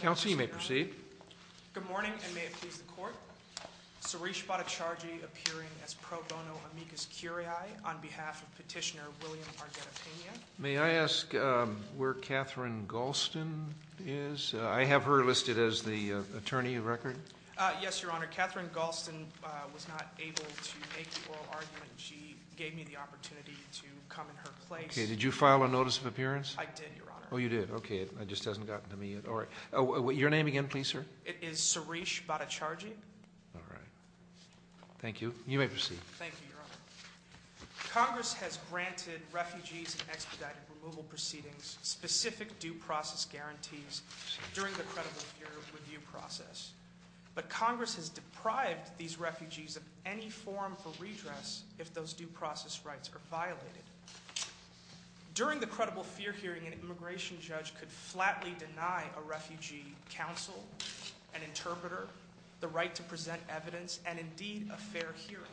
Counsel, you may proceed. Good morning, and may it please the court. Suresh Bhattacharjee appearing as pro bono amicus curiae on behalf of petitioner William Argueta Pena. May I ask where Catherine Galston is? I have her listed as the attorney of record. Yes, Your Honor. Catherine Galston was not able to make the oral argument. She gave me the opportunity to come in her place. Okay. Did you file a notice of appearance? I did, Your Honor. Oh, you did. Okay. It just hasn't gotten to me yet. Your name again, please, sir. It is Suresh Bhattacharjee. All right. Thank you. You may proceed. Thank you, Your Honor. Congress has granted refugees expedited removal proceedings specific due process guarantees during the credible review process. But Congress has deprived these refugees of any form for redress if those due process rights are violated. During the credible fear hearing, an immigration judge could flatly deny a refugee counsel, an interpreter, the right to present evidence, and indeed a fair hearing.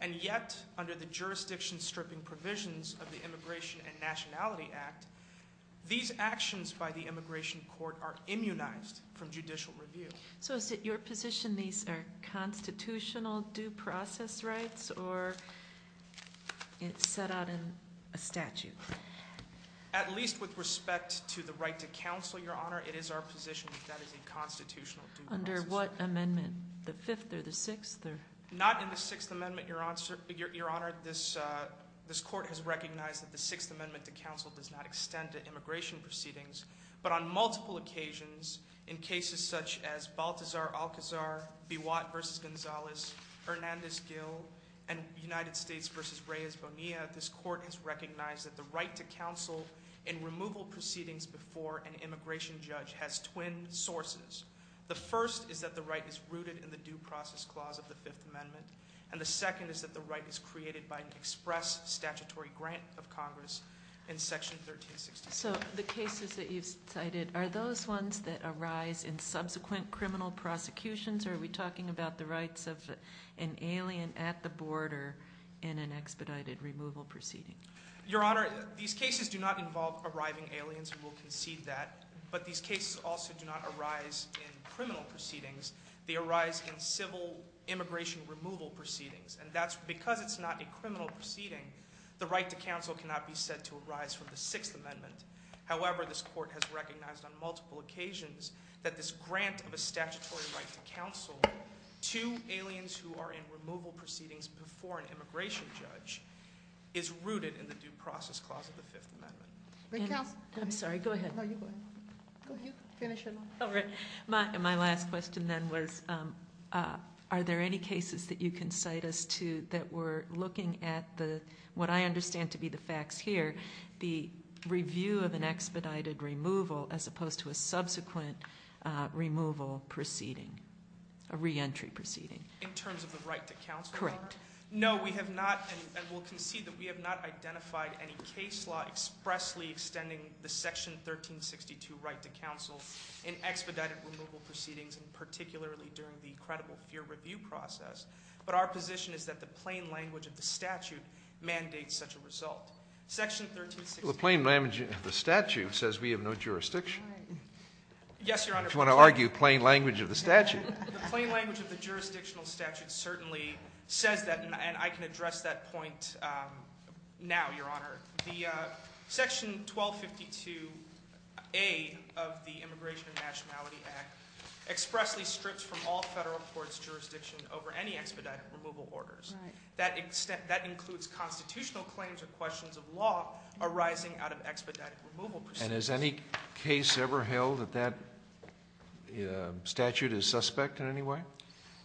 And yet, under the jurisdiction stripping provisions of the Immigration and Nationality Act, these actions by the immigration court are immunized from judicial review. So is it your position these are constitutional due process rights or set out in a statute? At least with respect to the right to counsel, Your Honor, it is our position that that is a constitutional due process right. What amendment? The fifth or the sixth? Not in the Sixth Amendment, Your Honor. This court has recognized that the Sixth Amendment to counsel does not extend to immigration proceedings. But on multiple occasions, in cases such as Baltazar-Alcazar, Biwat v. Gonzalez, Hernandez-Gil, and United States v. Reyes-Bonilla, this court has recognized that the right to counsel in removal proceedings before an immigration judge has twin sources. The first is that the right is rooted in the due process clause of the Fifth Amendment, and the second is that the right is created by an express statutory grant of Congress in Section 1366. So the cases that you've cited, are those ones that arise in subsequent criminal prosecutions, or are we talking about the rights of an alien at the border in an expedited removal proceeding? Your Honor, these cases do not involve arriving aliens, and we'll concede that, but these cases also do not arise in criminal proceedings. They arise in civil immigration removal proceedings, and that's because it's not a criminal proceeding. The right to counsel cannot be said to arise from the Sixth Amendment. However, this court has recognized on multiple occasions that this grant of a statutory right to counsel to aliens who are in removal proceedings before an immigration judge is rooted in the due process clause of the Fifth Amendment. May counsel- I'm sorry, go ahead. No, you go ahead. Go ahead, finish it off. All right. My last question then was, are there any cases that you can cite as to, that we're looking at what I understand to be the facts here, the review of an expedited removal as opposed to a subsequent removal proceeding, a re-entry proceeding? In terms of the right to counsel? Correct. No, we have not, and we'll concede that we have not identified any case law expressly extending the Section 1362 right to counsel in expedited removal proceedings, and particularly during the credible fear review process. But our position is that the plain language of the statute mandates such a result. Section 1362- Well, the plain language of the statute says we have no jurisdiction. Yes, Your Honor. If you want to argue plain language of the statute. The plain language of the jurisdictional statute certainly says that, and I can address that point now, Your Honor. The Section 1252A of the Immigration and Nationality Act expressly strips from all federal courts jurisdiction over any expedited removal orders. Right. That includes constitutional claims or questions of law arising out of expedited removal proceedings. And has any case ever held that that statute is suspect in any way?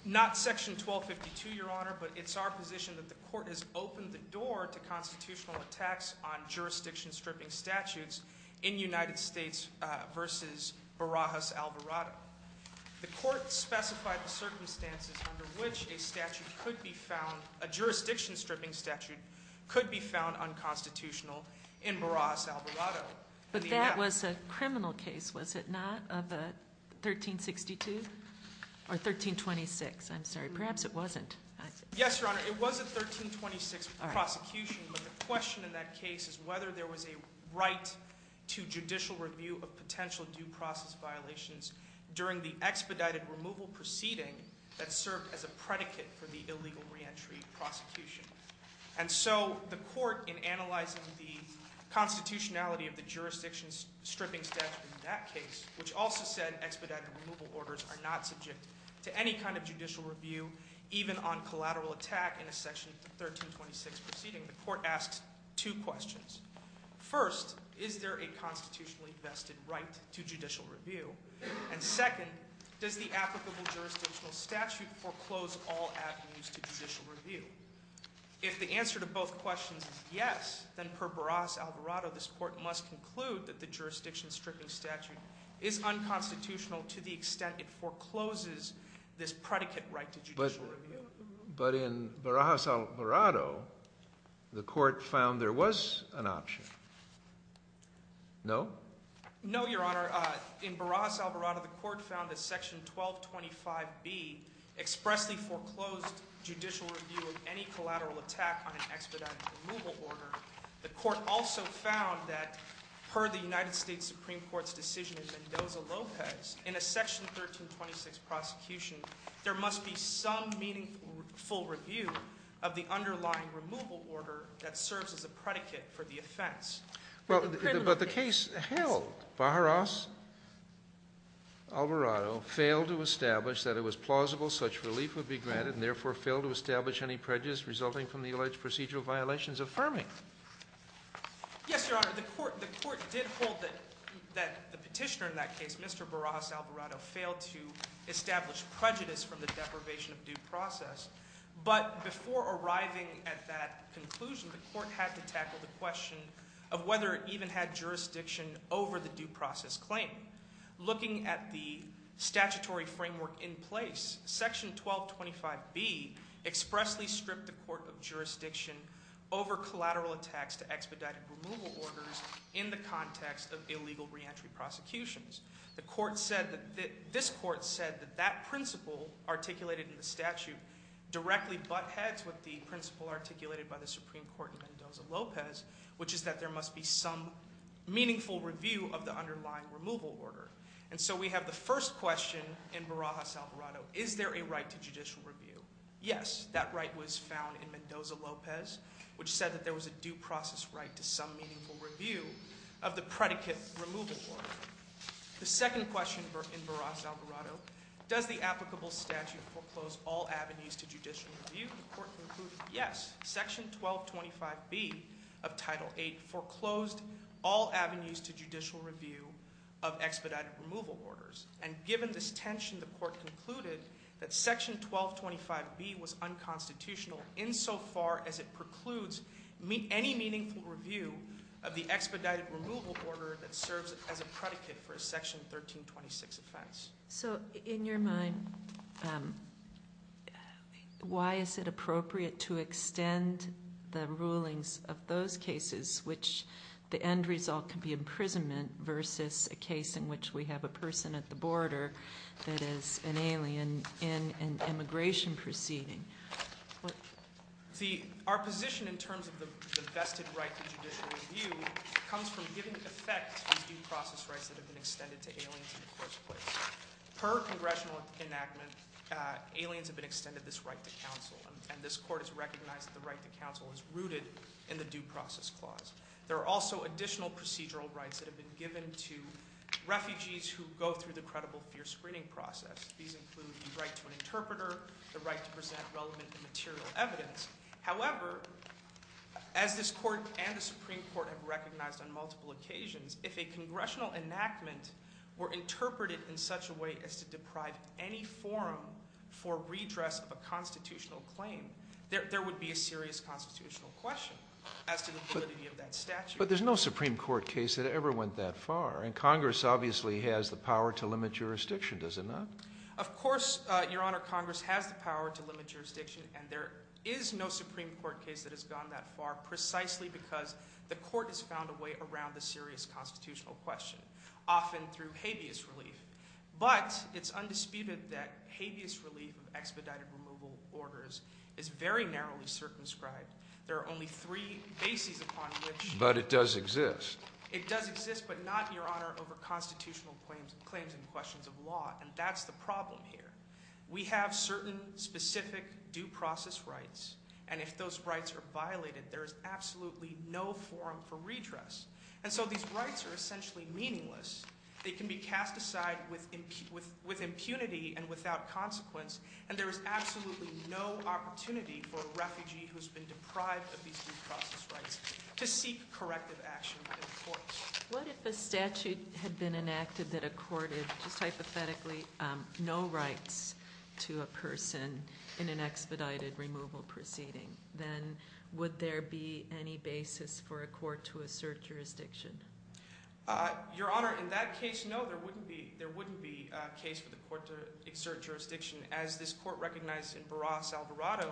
Not Section 1252, Your Honor, but it's our position that the Court has opened the door to constitutional attacks on jurisdiction-stripping statutes in the United States versus Barajas-Alvarado. The Court specified the circumstances under which a jurisdiction-stripping statute could be found unconstitutional in Barajas-Alvarado. But that was a criminal case, was it not? Of 1362? Or 1326? I'm sorry, perhaps it wasn't. Yes, Your Honor, it was a 1326 prosecution. But the question in that case is whether there was a right to judicial review of potential due process violations during the expedited removal proceeding that served as a predicate for the illegal reentry prosecution. And so the Court, in analyzing the constitutionality of the jurisdiction-stripping statute in that case, which also said expedited removal orders are not subject to any kind of judicial review, even on collateral attack in a Section 1326 proceeding, the Court asked two questions. First, is there a constitutionally vested right to judicial review? And second, does the applicable jurisdictional statute foreclose all avenues to judicial review? If the answer to both questions is yes, then per Barajas-Alvarado, this Court must conclude that the jurisdiction-stripping statute is unconstitutional to the extent it forecloses this predicate right to judicial review. But in Barajas-Alvarado, the Court found there was an option. No? No, Your Honor. In Barajas-Alvarado, the Court found that Section 1225B expressly foreclosed judicial review of any collateral attack on an expedited removal order. The Court also found that, per the United States Supreme Court's decision in Mendoza-Lopez, in a Section 1326 prosecution, there must be some meaningful full review of the underlying removal order that serves as a predicate for the offense. But the case held, Barajas-Alvarado failed to establish that it was plausible such relief would be granted and therefore failed to establish any prejudice resulting from the alleged procedural violations affirming. Yes, Your Honor. The Court did hold that the petitioner in that case, Mr. Barajas-Alvarado, failed to establish prejudice from the deprivation of due process. But before arriving at that conclusion, the Court had to tackle the question of whether it even had jurisdiction over the due process claim. Looking at the statutory framework in place, Section 1225B expressly stripped the Court of jurisdiction over collateral attacks to expedited removal orders in the context of illegal reentry prosecutions. This Court said that that principle articulated in the statute directly buttheads with the principle articulated by the Supreme Court in Mendoza-Lopez, which is that there must be some meaningful review of the underlying removal order. And so we have the first question in Barajas-Alvarado, is there a right to judicial review? Yes, that right was found in Mendoza-Lopez, which said that there was a due process right to some meaningful review of the predicate removal order. The second question in Barajas-Alvarado, does the applicable statute foreclose all avenues to judicial review? Yes, Section 1225B of Title VIII foreclosed all avenues to judicial review of expedited removal orders. And given this tension, the Court concluded that Section 1225B was unconstitutional insofar as it precludes any meaningful review of the expedited removal order that serves as a predicate for a Section 1326 offense. So, in your mind, why is it appropriate to extend the rulings of those cases, which the end result can be imprisonment versus a case in which we have a person at the border that is an alien in an immigration proceeding? Our position in terms of the vested right to judicial review comes from giving effect to due process rights that have been extended to aliens in the first place. Per congressional enactment, aliens have been extended this right to counsel, and this Court has recognized that the right to counsel is rooted in the due process clause. There are also additional procedural rights that have been given to refugees who go through the credible fear screening process. These include the right to an interpreter, the right to present relevant and material evidence. However, as this Court and the Supreme Court have recognized on multiple occasions, if a congressional enactment were interpreted in such a way as to deprive any forum for redress of a constitutional claim, there would be a serious constitutional question as to the validity of that statute. But there's no Supreme Court case that ever went that far. And Congress obviously has the power to limit jurisdiction, does it not? Of course, Your Honor, Congress has the power to limit jurisdiction, and there is no Supreme Court case that has gone that far precisely because the Court has found a way around the serious constitutional question, often through habeas relief. But it's undisputed that habeas relief of expedited removal orders is very narrowly circumscribed. There are only three bases upon which… But it does exist. It does exist, but not, Your Honor, over constitutional claims and questions of law, and that's the problem here. We have certain specific due process rights, and if those rights are violated, there is absolutely no forum for redress. And so these rights are essentially meaningless. They can be cast aside with impunity and without consequence, and there is absolutely no opportunity for a refugee who has been deprived of these due process rights to seek corrective action in court. What if a statute had been enacted that accorded just hypothetically no rights to a person in an expedited removal proceeding? Then would there be any basis for a court to assert jurisdiction? Your Honor, in that case, no, there wouldn't be a case for the court to assert jurisdiction. As this Court recognized in Barras-Alvarado,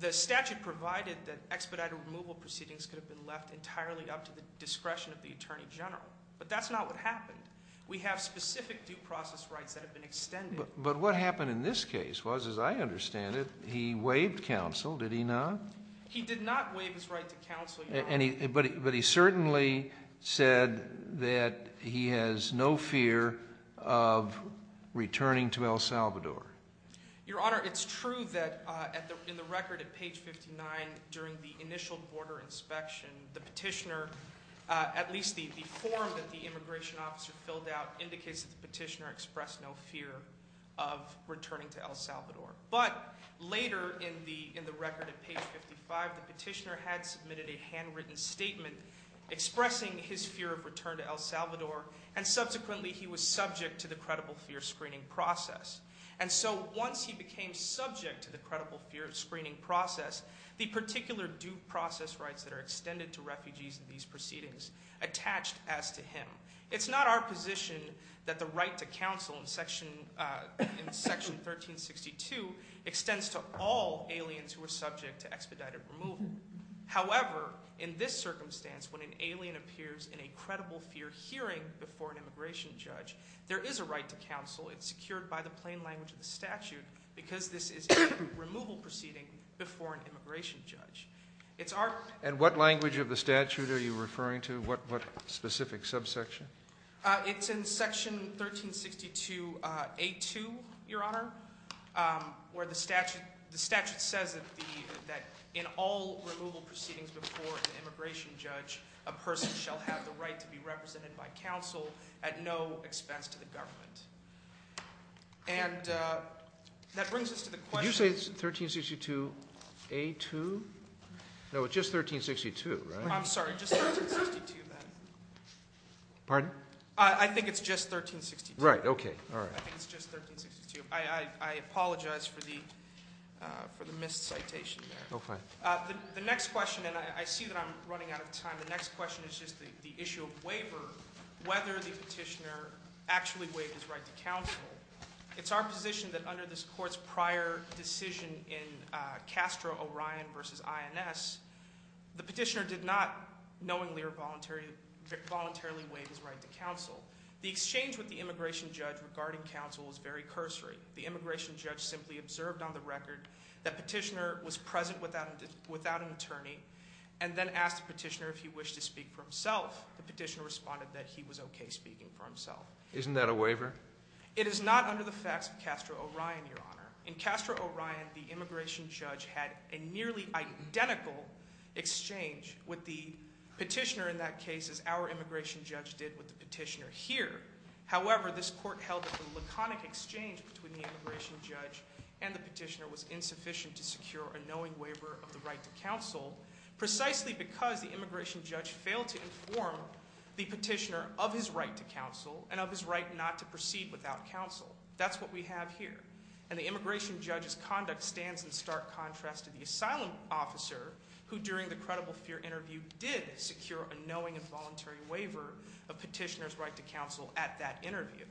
the statute provided that expedited removal proceedings could have been left entirely up to the discretion of the Attorney General. But that's not what happened. We have specific due process rights that have been extended. But what happened in this case was, as I understand it, he waived counsel, did he not? But he certainly said that he has no fear of returning to El Salvador. Your Honor, it's true that in the record at page 59, during the initial border inspection, the petitioner, at least the form that the immigration officer filled out, indicates that the petitioner expressed no fear of returning to El Salvador. But later in the record at page 55, the petitioner had submitted a handwritten statement expressing his fear of return to El Salvador. And subsequently, he was subject to the credible fear screening process. And so once he became subject to the credible fear screening process, the particular due process rights that are extended to refugees in these proceedings attached as to him. It's not our position that the right to counsel in Section 1362 extends to all aliens who are subject to expedited removal. However, in this circumstance, when an alien appears in a credible fear hearing before an immigration judge, there is a right to counsel. It's secured by the plain language of the statute because this is a removal proceeding before an immigration judge. And what language of the statute are you referring to? What specific subsection? It's in Section 1362A2, Your Honor, where the statute says that in all removal proceedings before an immigration judge, a person shall have the right to be represented by counsel at no expense to the government. And that brings us to the question. Did you say it's 1362A2? No, it's just 1362, right? I'm sorry. Just 1362, then. Pardon? I think it's just 1362. Right. Okay. All right. I think it's just 1362. I apologize for the missed citation there. Oh, fine. The next question, and I see that I'm running out of time. The next question is just the issue of waiver, whether the petitioner actually waived his right to counsel. It's our position that under this court's prior decision in Castro-Orion v. INS, the petitioner did not knowingly or voluntarily waive his right to counsel. The exchange with the immigration judge regarding counsel is very cursory. The immigration judge simply observed on the record that petitioner was present without an attorney and then asked the petitioner if he wished to speak for himself. The petitioner responded that he was okay speaking for himself. Isn't that a waiver? It is not under the facts of Castro-Orion, Your Honor. In Castro-Orion, the immigration judge had a nearly identical exchange with the petitioner in that case as our immigration judge did with the petitioner here. However, this court held that the laconic exchange between the immigration judge and the petitioner was insufficient to secure a knowing waiver of the right to counsel precisely because the immigration judge failed to inform the petitioner of his right to counsel and of his right not to proceed without counsel. That's what we have here. And the immigration judge's conduct stands in stark contrast to the asylum officer who, during the credible fear interview, did secure a knowing and voluntary waiver of petitioner's right to counsel at that interview.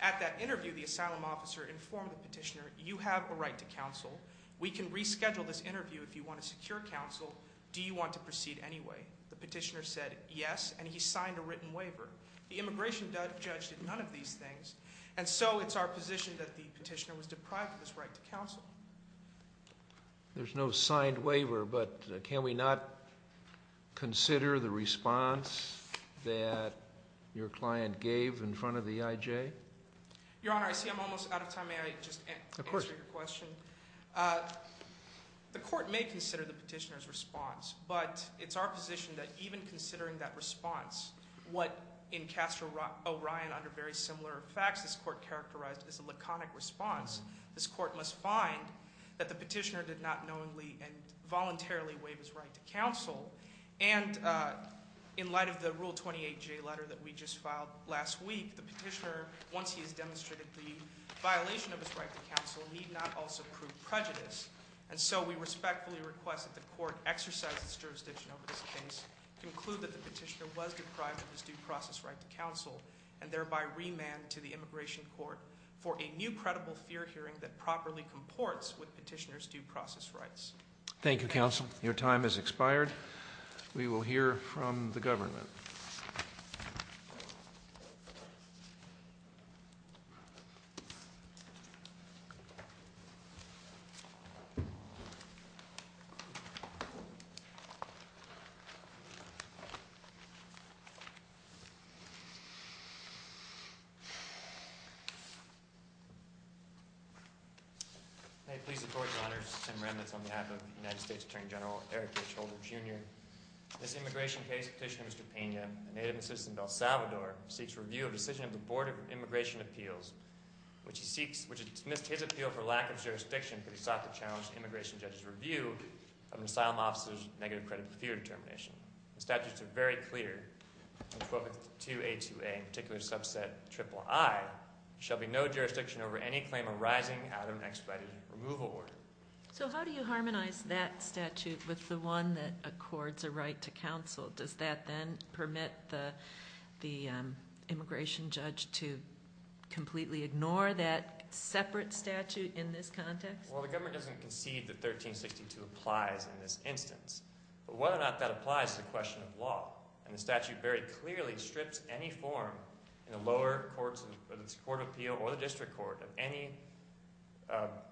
At that interview, the asylum officer informed the petitioner, you have a right to counsel. We can reschedule this interview if you want to secure counsel. Do you want to proceed anyway? The petitioner said yes, and he signed a written waiver. The immigration judge did none of these things, and so it's our position that the petitioner was deprived of his right to counsel. There's no signed waiver, but can we not consider the response that your client gave in front of the IJ? Your Honor, I see I'm almost out of time. Of course. The court may consider the petitioner's response, but it's our position that even considering that response, what in Castro-Orion under very similar facts this court characterized as a laconic response, this court must find that the petitioner did not knowingly and voluntarily waive his right to counsel. And in light of the Rule 28J letter that we just filed last week, the petitioner, once he has demonstrated the violation of his right to counsel, need not also prove prejudice. And so we respectfully request that the court exercise its jurisdiction over this case, conclude that the petitioner was deprived of his due process right to counsel, and thereby remand to the immigration court for a new credible fear hearing that properly comports with petitioner's due process rights. Thank you, Counsel. Your time has expired. We will hear from the government. May it please the Court, Your Honor, this is Tim Remnitz on behalf of the United States Attorney General Eric H. Holder, Jr. In this immigration case, Petitioner Mr. Pena, a native of El Salvador, seeks review of the decision of the Board of Immigration Appeals, which has dismissed his appeal for lack of jurisdiction for the sought-to-challenge immigration judge's review of an asylum officer's negative credible fear determination. The statutes are very clear. In 12th 2A2A, in particular subset IIII, shall be no jurisdiction over any claim arising out of an expedited removal order. So how do you harmonize that statute with the one that accords a right to counsel? Does that then permit the immigration judge to completely ignore that separate statute in this context? Well, the government doesn't concede that 1362 applies in this instance. But whether or not that applies is a question of law. And the statute very clearly strips any form in the lower court of appeal or the district court of any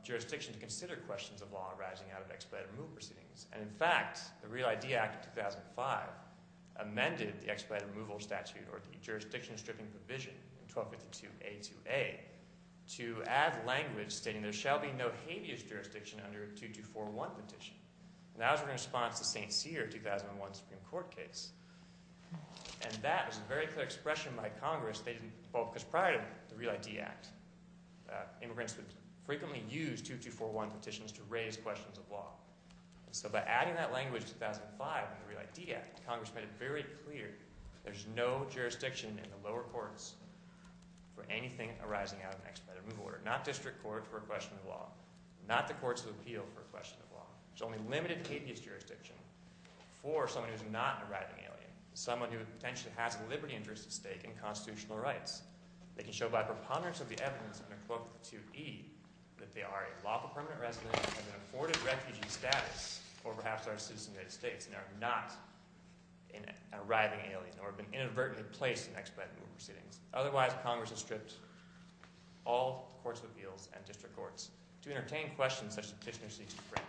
jurisdiction to consider questions of law arising out of expedited removal proceedings. And in fact, the Real ID Act of 2005 amended the expedited removal statute or the jurisdiction stripping provision in 1252A2A to add language stating there shall be no habeas jurisdiction under 2241 petition. And that was in response to St. Cyr's 2001 Supreme Court case. And that was a very clear expression by Congress stating – well, because prior to the Real ID Act, immigrants would frequently use 2241 petitions to raise questions of law. And so by adding that language in 2005 in the Real ID Act, Congress made it very clear there's no jurisdiction in the lower courts for anything arising out of an expedited removal order. Not district court for a question of law. Not the courts of appeal for a question of law. There's only limited habeas jurisdiction for someone who's not an arriving alien, someone who potentially has a liberty interest at stake in constitutional rights. They can show by preponderance of the evidence under quote 2E that they are a lawful permanent resident of an afforded refugee status or perhaps are a citizen of the United States and are not an arriving alien or have been inadvertently placed in expedited removal proceedings. Otherwise, Congress has stripped all courts of appeals and district courts to entertain questions such as petitioners seek to frame.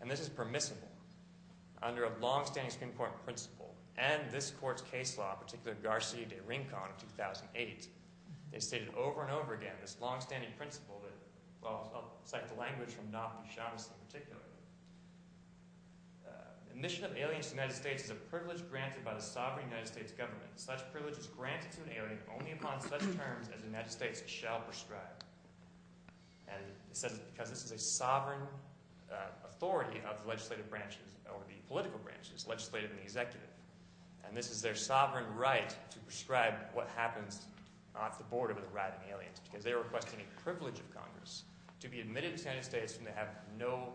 And this is permissible under a longstanding Supreme Court principle and this court's case law, in particular, Garcia de Rincon of 2008. They stated over and over again this longstanding principle that – well, I'll cite the language from Naftali Chavez in particular. The admission of an alien to the United States is a privilege granted by the sovereign United States government. Such privilege is granted to an alien only upon such terms as the United States shall prescribe. And it says because this is a sovereign authority of the legislative branches or the political branches, legislative and executive. And this is their sovereign right to prescribe what happens off the border with arriving aliens because they are requesting a privilege of Congress to be admitted to the United States when they have no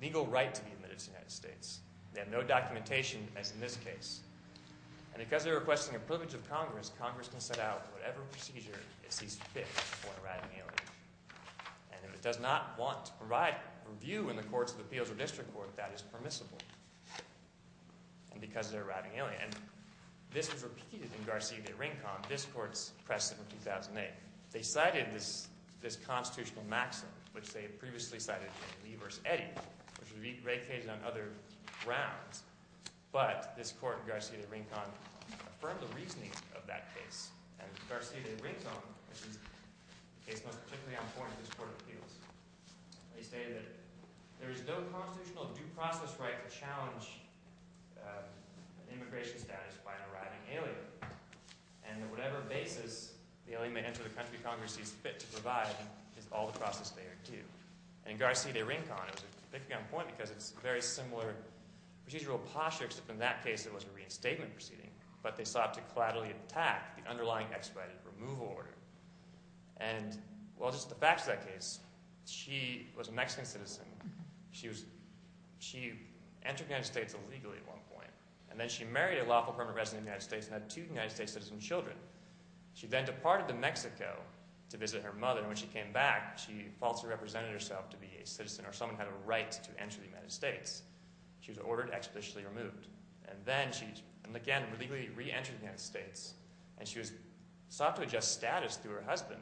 legal right to be admitted to the United States. They have no documentation as in this case. And because they're requesting a privilege of Congress, Congress can set out whatever procedure it sees fit for an arriving alien. And if it does not want to provide review in the courts of appeals or district court, that is permissible. And because they're an arriving alien. And this was repeated in Garcia de Rincon, this court's precedent of 2008. They cited this constitutional maxim, which they had previously cited in Lee v. Eddy, which was vacated on other grounds. But this court, Garcia de Rincon, affirmed the reasoning of that case. And Garcia de Rincon, which is the case most particularly important in this court of appeals. They stated that there is no constitutional due process right to challenge immigration status by an arriving alien. And that whatever basis the alien may enter the country Congress sees fit to provide is all the process they are due. And in Garcia de Rincon, it was a difficult point because it's a very similar procedural posture, except in that case it was a reinstatement proceeding. But they sought to collaterally attack the underlying expedited removal order. And well, just the facts of that case. She was a Mexican citizen. She entered the United States illegally at one point. And then she married a lawful permanent resident of the United States and had two United States citizen children. She then departed to Mexico to visit her mother. And when she came back, she falsely represented herself to be a citizen or someone who had a right to enter the United States. She was ordered expeditiously removed. And then she, again, legally re-entered the United States. And she was sought to adjust status through her husband.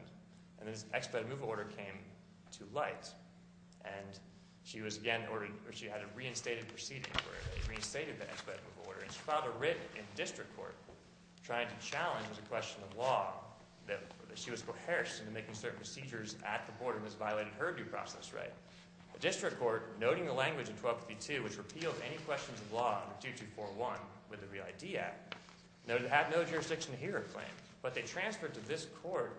And this expedited removal order came to light. And she was again ordered – or she had a reinstated proceeding where they reinstated the expedited removal order. And she filed a writ in district court trying to challenge the question of law that she was coerced into making certain procedures at the border. And this violated her due process right. The district court, noting the language in 1252, which repealed any questions of law under 2241 with the ReID Act, noted it had no jurisdiction to hear her claim. But they transferred to this court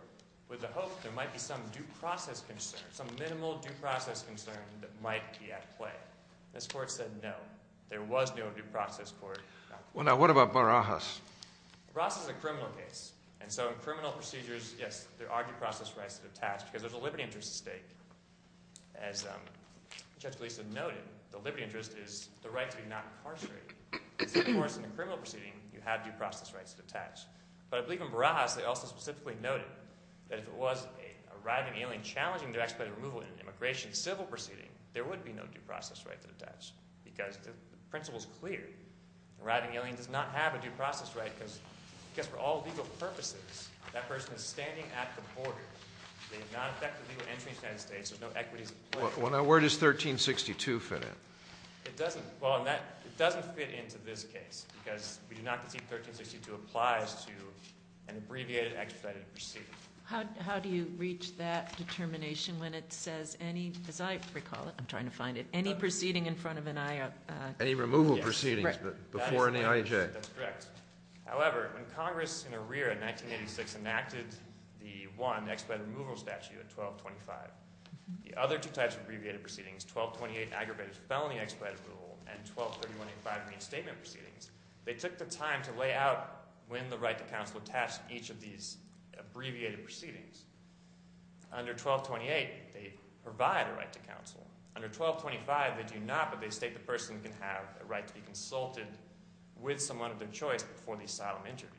with the hope there might be some due process concern, some minimal due process concern that might be at play. And this court said no. There was no due process court. Well, now what about Barajas? Barajas is a criminal case. And so in criminal procedures, yes, there are due process rights that are attached because there's a liberty interest at stake. As Judge Gleeson noted, the liberty interest is the right to be not incarcerated. Of course, in a criminal proceeding, you have due process rights attached. But I believe in Barajas they also specifically noted that if it was a arriving alien challenging their expedited removal in an immigration civil proceeding, there would be no due process right to attach. Because the principle is clear. The arriving alien does not have a due process right because, I guess for all legal purposes, that person is standing at the border. They have not effectively entered the United States. There's no equities at play. Well, now where does 1362 fit in? It doesn't. Well, it doesn't fit into this case because we do not conceive 1362 applies to an abbreviated expedited proceeding. How do you reach that determination when it says any, as I recall it, I'm trying to find it, any proceeding in front of an I- Any removal proceedings before an IAJ. That's correct. However, when Congress in arrear in 1986 enacted the one expedited removal statute at 1225, the other two types of abbreviated proceedings, 1228 aggravated felony expedited rule and 1231.85 reinstatement proceedings, they took the time to lay out when the right to counsel attached each of these abbreviated proceedings. Under 1228, they provide a right to counsel. Under 1225, they do not, but they state the person can have a right to be consulted with someone of their choice before the asylum interview.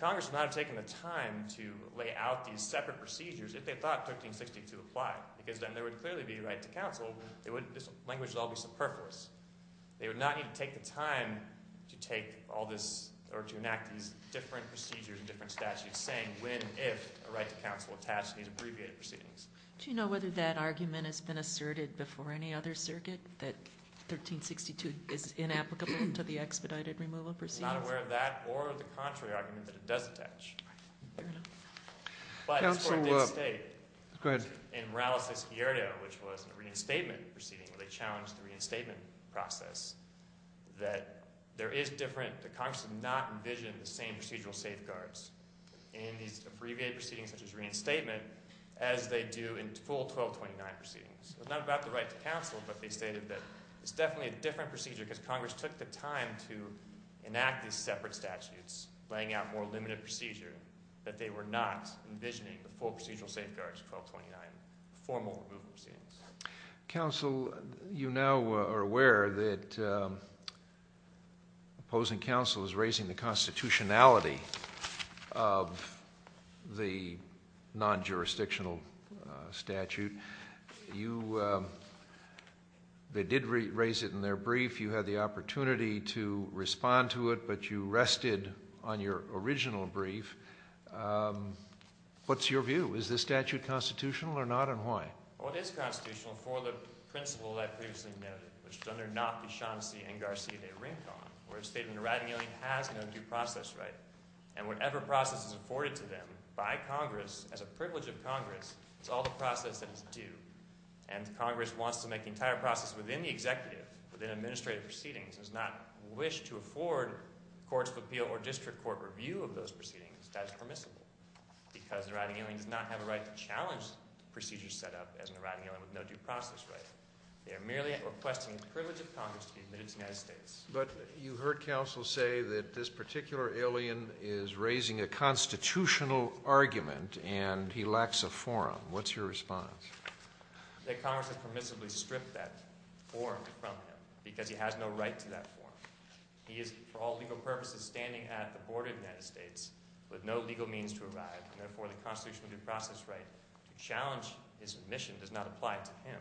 Congress would not have taken the time to lay out these separate procedures if they thought 1362 applied because then there would clearly be a right to counsel. This language would all be superfluous. They would not need to take the time to take all this or to enact these different procedures and different statutes saying when, if, a right to counsel attached to these abbreviated proceedings. Do you know whether that argument has been asserted before any other circuit that 1362 is inapplicable to the expedited removal proceedings? I'm not aware of that or the contrary argument that it does attach. Right, fair enough. Counsel, go ahead. In Morales' Hierdo, which was a reinstatement proceeding where they challenged the reinstatement process, that there is different, that Congress did not envision the same procedural safeguards in these abbreviated proceedings such as reinstatement as they do in full 1229 proceedings. It's not about the right to counsel, but they stated that it's definitely a different procedure because Congress took the time to not envisioning the full procedural safeguards of 1229 formal removal proceedings. Counsel, you now are aware that opposing counsel is raising the constitutionality of the non-jurisdictional statute. You, they did raise it in their brief. You had the opportunity to respond to it, but you rested on your original brief. What's your view? Is this statute constitutional or not, and why? Well, it is constitutional for the principle that I previously noted, which is under Knopf, Dechancey, and Garcia de Rincon, where a statement of writing only has no due process right. And whatever process is afforded to them by Congress, as a privilege of Congress, it's all the process that is due. And Congress wants to make the entire process within the executive, within administrative proceedings, and does not wish to afford courts of appeal or district court review of those proceedings as permissible because the writing alien does not have a right to challenge the procedure set up as a writing alien with no due process right. They are merely requesting the privilege of Congress to be admitted to the United States. But you heard counsel say that this particular alien is raising a constitutional argument and he lacks a forum. What's your response? That Congress has permissibly stripped that forum from him because he has no right to that forum. He is, for all legal purposes, standing at the border of the United States with no legal means to arrive, and therefore the constitutional due process right to challenge his admission does not apply to him.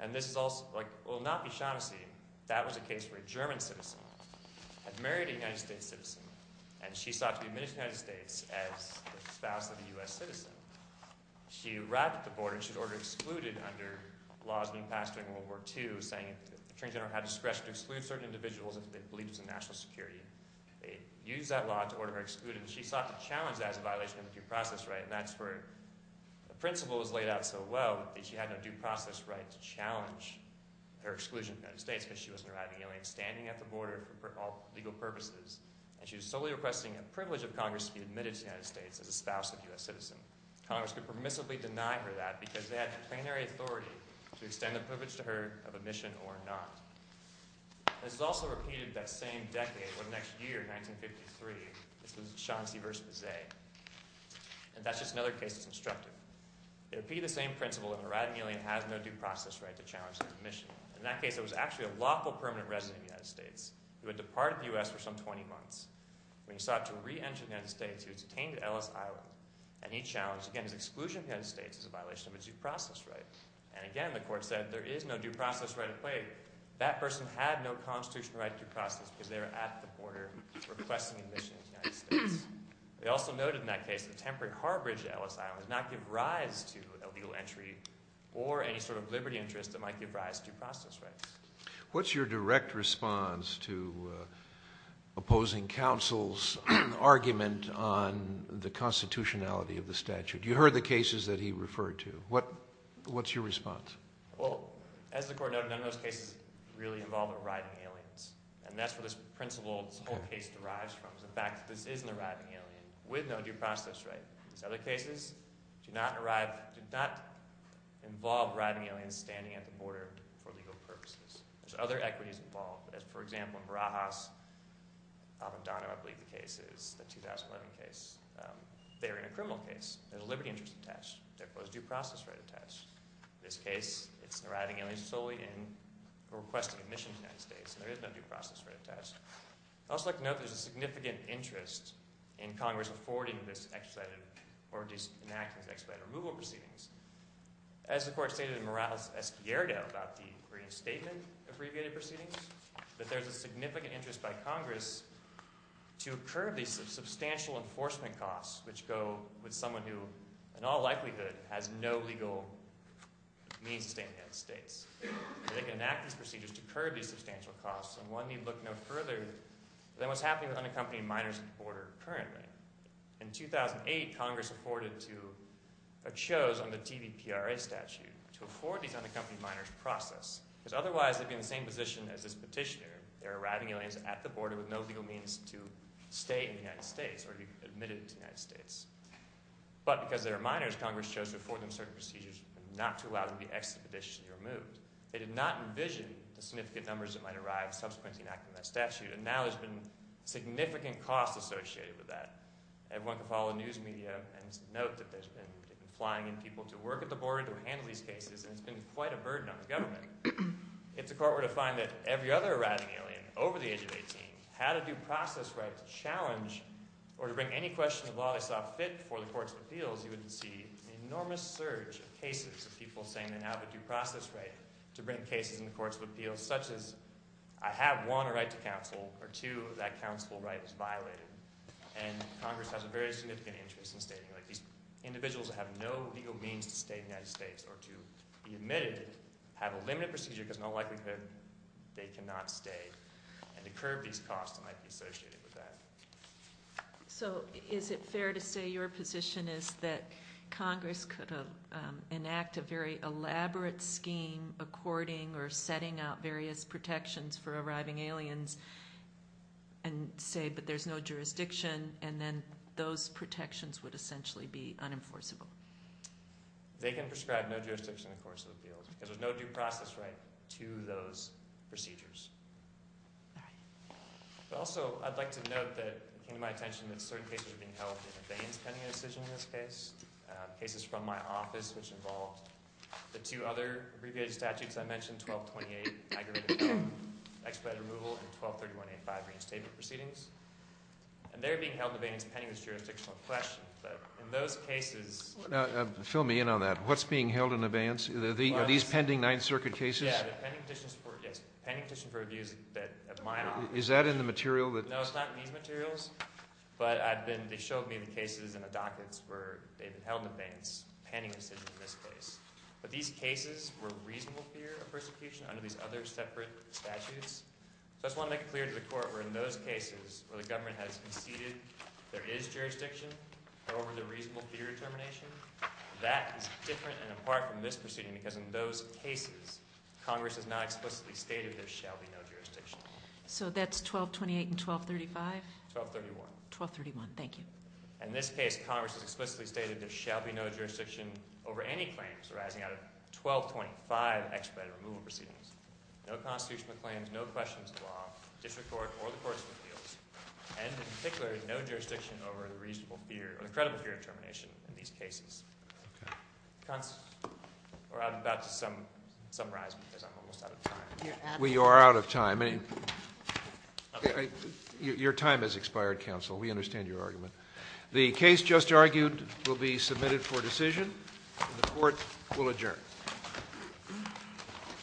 And this is also, like, well, not Bishanassi. That was a case where a German citizen had married a United States citizen, and she sought to be admitted to the United States as the spouse of a U.S. citizen. She arrived at the border and she was ordered excluded under laws being passed during World War II saying that the Attorney General had discretion to exclude certain individuals if they believed it was a national security. They used that law to order her excluded, and she sought to challenge that as a violation of the due process right, and that's where the principle was laid out so well that she had no due process right to challenge her exclusion from the United States because she was an arriving alien standing at the border for all legal purposes, and she was solely requesting a privilege of Congress to be admitted to the United States as a spouse of a U.S. citizen. Congress could permissibly deny her that because they had plenary authority to extend the privilege to her of admission or not. This is also repeated that same decade or next year, 1953. This was Bishanassi v. Bizet. And that's just another case that's instructive. They repeat the same principle that an arriving alien has no due process right to challenge his admission. In that case, it was actually a lawful permanent resident of the United States who had departed the U.S. for some 20 months. When he sought to re-enter the United States, he was detained at Ellis Island, and he challenged, again, his exclusion from the United States as a violation of his due process right. And again, the court said there is no due process right at play. That person had no constitutional right to due process because they were at the border requesting admission to the United States. They also noted in that case the temporary harborage at Ellis Island did not give rise to a legal entry or any sort of liberty interest that might give rise to due process rights. What's your direct response to opposing counsel's argument on the constitutionality of the statute? You heard the cases that he referred to. What's your response? Well, as the court noted, none of those cases really involve arriving aliens, and that's where this principle, this whole case derives from is the fact that this is an arriving alien with no due process right. These other cases do not involve arriving aliens standing at the border for legal purposes. There's other equities involved. For example, in Barajas, Abandono, I believe the case is, the 2011 case, they were in a criminal case. There's a liberty interest attached. There was a due process right attached. In this case, it's arriving aliens solely in requesting admission to the United States, and there is no due process right attached. I'd also like to note there's a significant interest in Congress affording this expedited or enacting this expedited removal proceedings. As the court stated in Morales S. Pierdo about the Green Statement abbreviated proceedings, that there's a significant interest by Congress to curb these substantial enforcement costs which go with someone who, in all likelihood, has no legal means to stay in the United States. They can enact these procedures to curb these substantial costs, and one need look no further than what's happening with unaccompanied minors at the border currently. In 2008, Congress afforded to, or chose under TVPRA statute, to afford these unaccompanied minors process. Because otherwise, they'd be in the same position as this petitioner. They're arriving aliens at the border with no legal means to stay in the United States or be admitted to the United States. But because they're minors, Congress chose to afford them certain procedures and not to allow them to be expeditionally removed. They did not envision the significant numbers that might arrive subsequently in that statute, and now there's been significant costs associated with that. Everyone can follow the news media and note that there's been flying in people to work at the border to handle these cases, and it's been quite a burden on the government. If the court were to find that every other arriving alien over the age of 18 had a due process right to challenge or to bring any question of law they saw fit for the courts of appeals, you would see an enormous surge of cases of people saying they have a due process right to bring cases in the courts of appeals, such as I have, one, a right to counsel, or two, that counsel right is violated. And Congress has a very significant interest in stating these individuals have no legal means to stay in the United States or to be admitted, have a limited procedure because in all likelihood they cannot stay, and to curb these costs that might be associated with that. So is it fair to say your position is that Congress could enact a very elaborate scheme according or setting out various protections for arriving aliens and say, but there's no jurisdiction, and then those protections would essentially be unenforceable? They can prescribe no jurisdiction in the courts of appeals because there's no due process right to those procedures. All right. But also, I'd like to note that it came to my attention that certain cases are being held in the veins pending a decision in this case. Cases from my office, which involved the two other abbreviated statutes I mentioned, 1228, aggravated rape, expedited removal, and 1231A5, reinstatement proceedings. And they're being held in the veins pending this jurisdictional question, but in those cases... Now, fill me in on that. What's being held in the veins? Are these pending Ninth Circuit cases? Yeah, the pending petition for abuse at my office. Is that in the material? No, it's not in these materials. But I've been... They showed me the cases in the dockets where they've been held in the veins pending a decision in this case. But these cases were reasonable fear of persecution under these other separate statutes. So I just want to make it clear to the court where in those cases where the government has conceded there is jurisdiction over the reasonable fear determination, that is different and apart from this proceeding because in those cases, Congress has not explicitly stated there shall be no jurisdiction. So that's 1228 and 1235? 1231. 1231, thank you. In this case, Congress has explicitly stated there shall be no jurisdiction over any claims arising out of 1225 expedited removal proceedings. No constitutional claims, no questions of the law, district court or the courts of appeals, and in particular, no jurisdiction over the reasonable fear or the credible fear determination in these cases. Okay. Or I'm about to summarize because I'm almost out of time. We are out of time. Your time has expired, counsel. We understand your argument. The case just argued will be submitted for decision and the court will adjourn.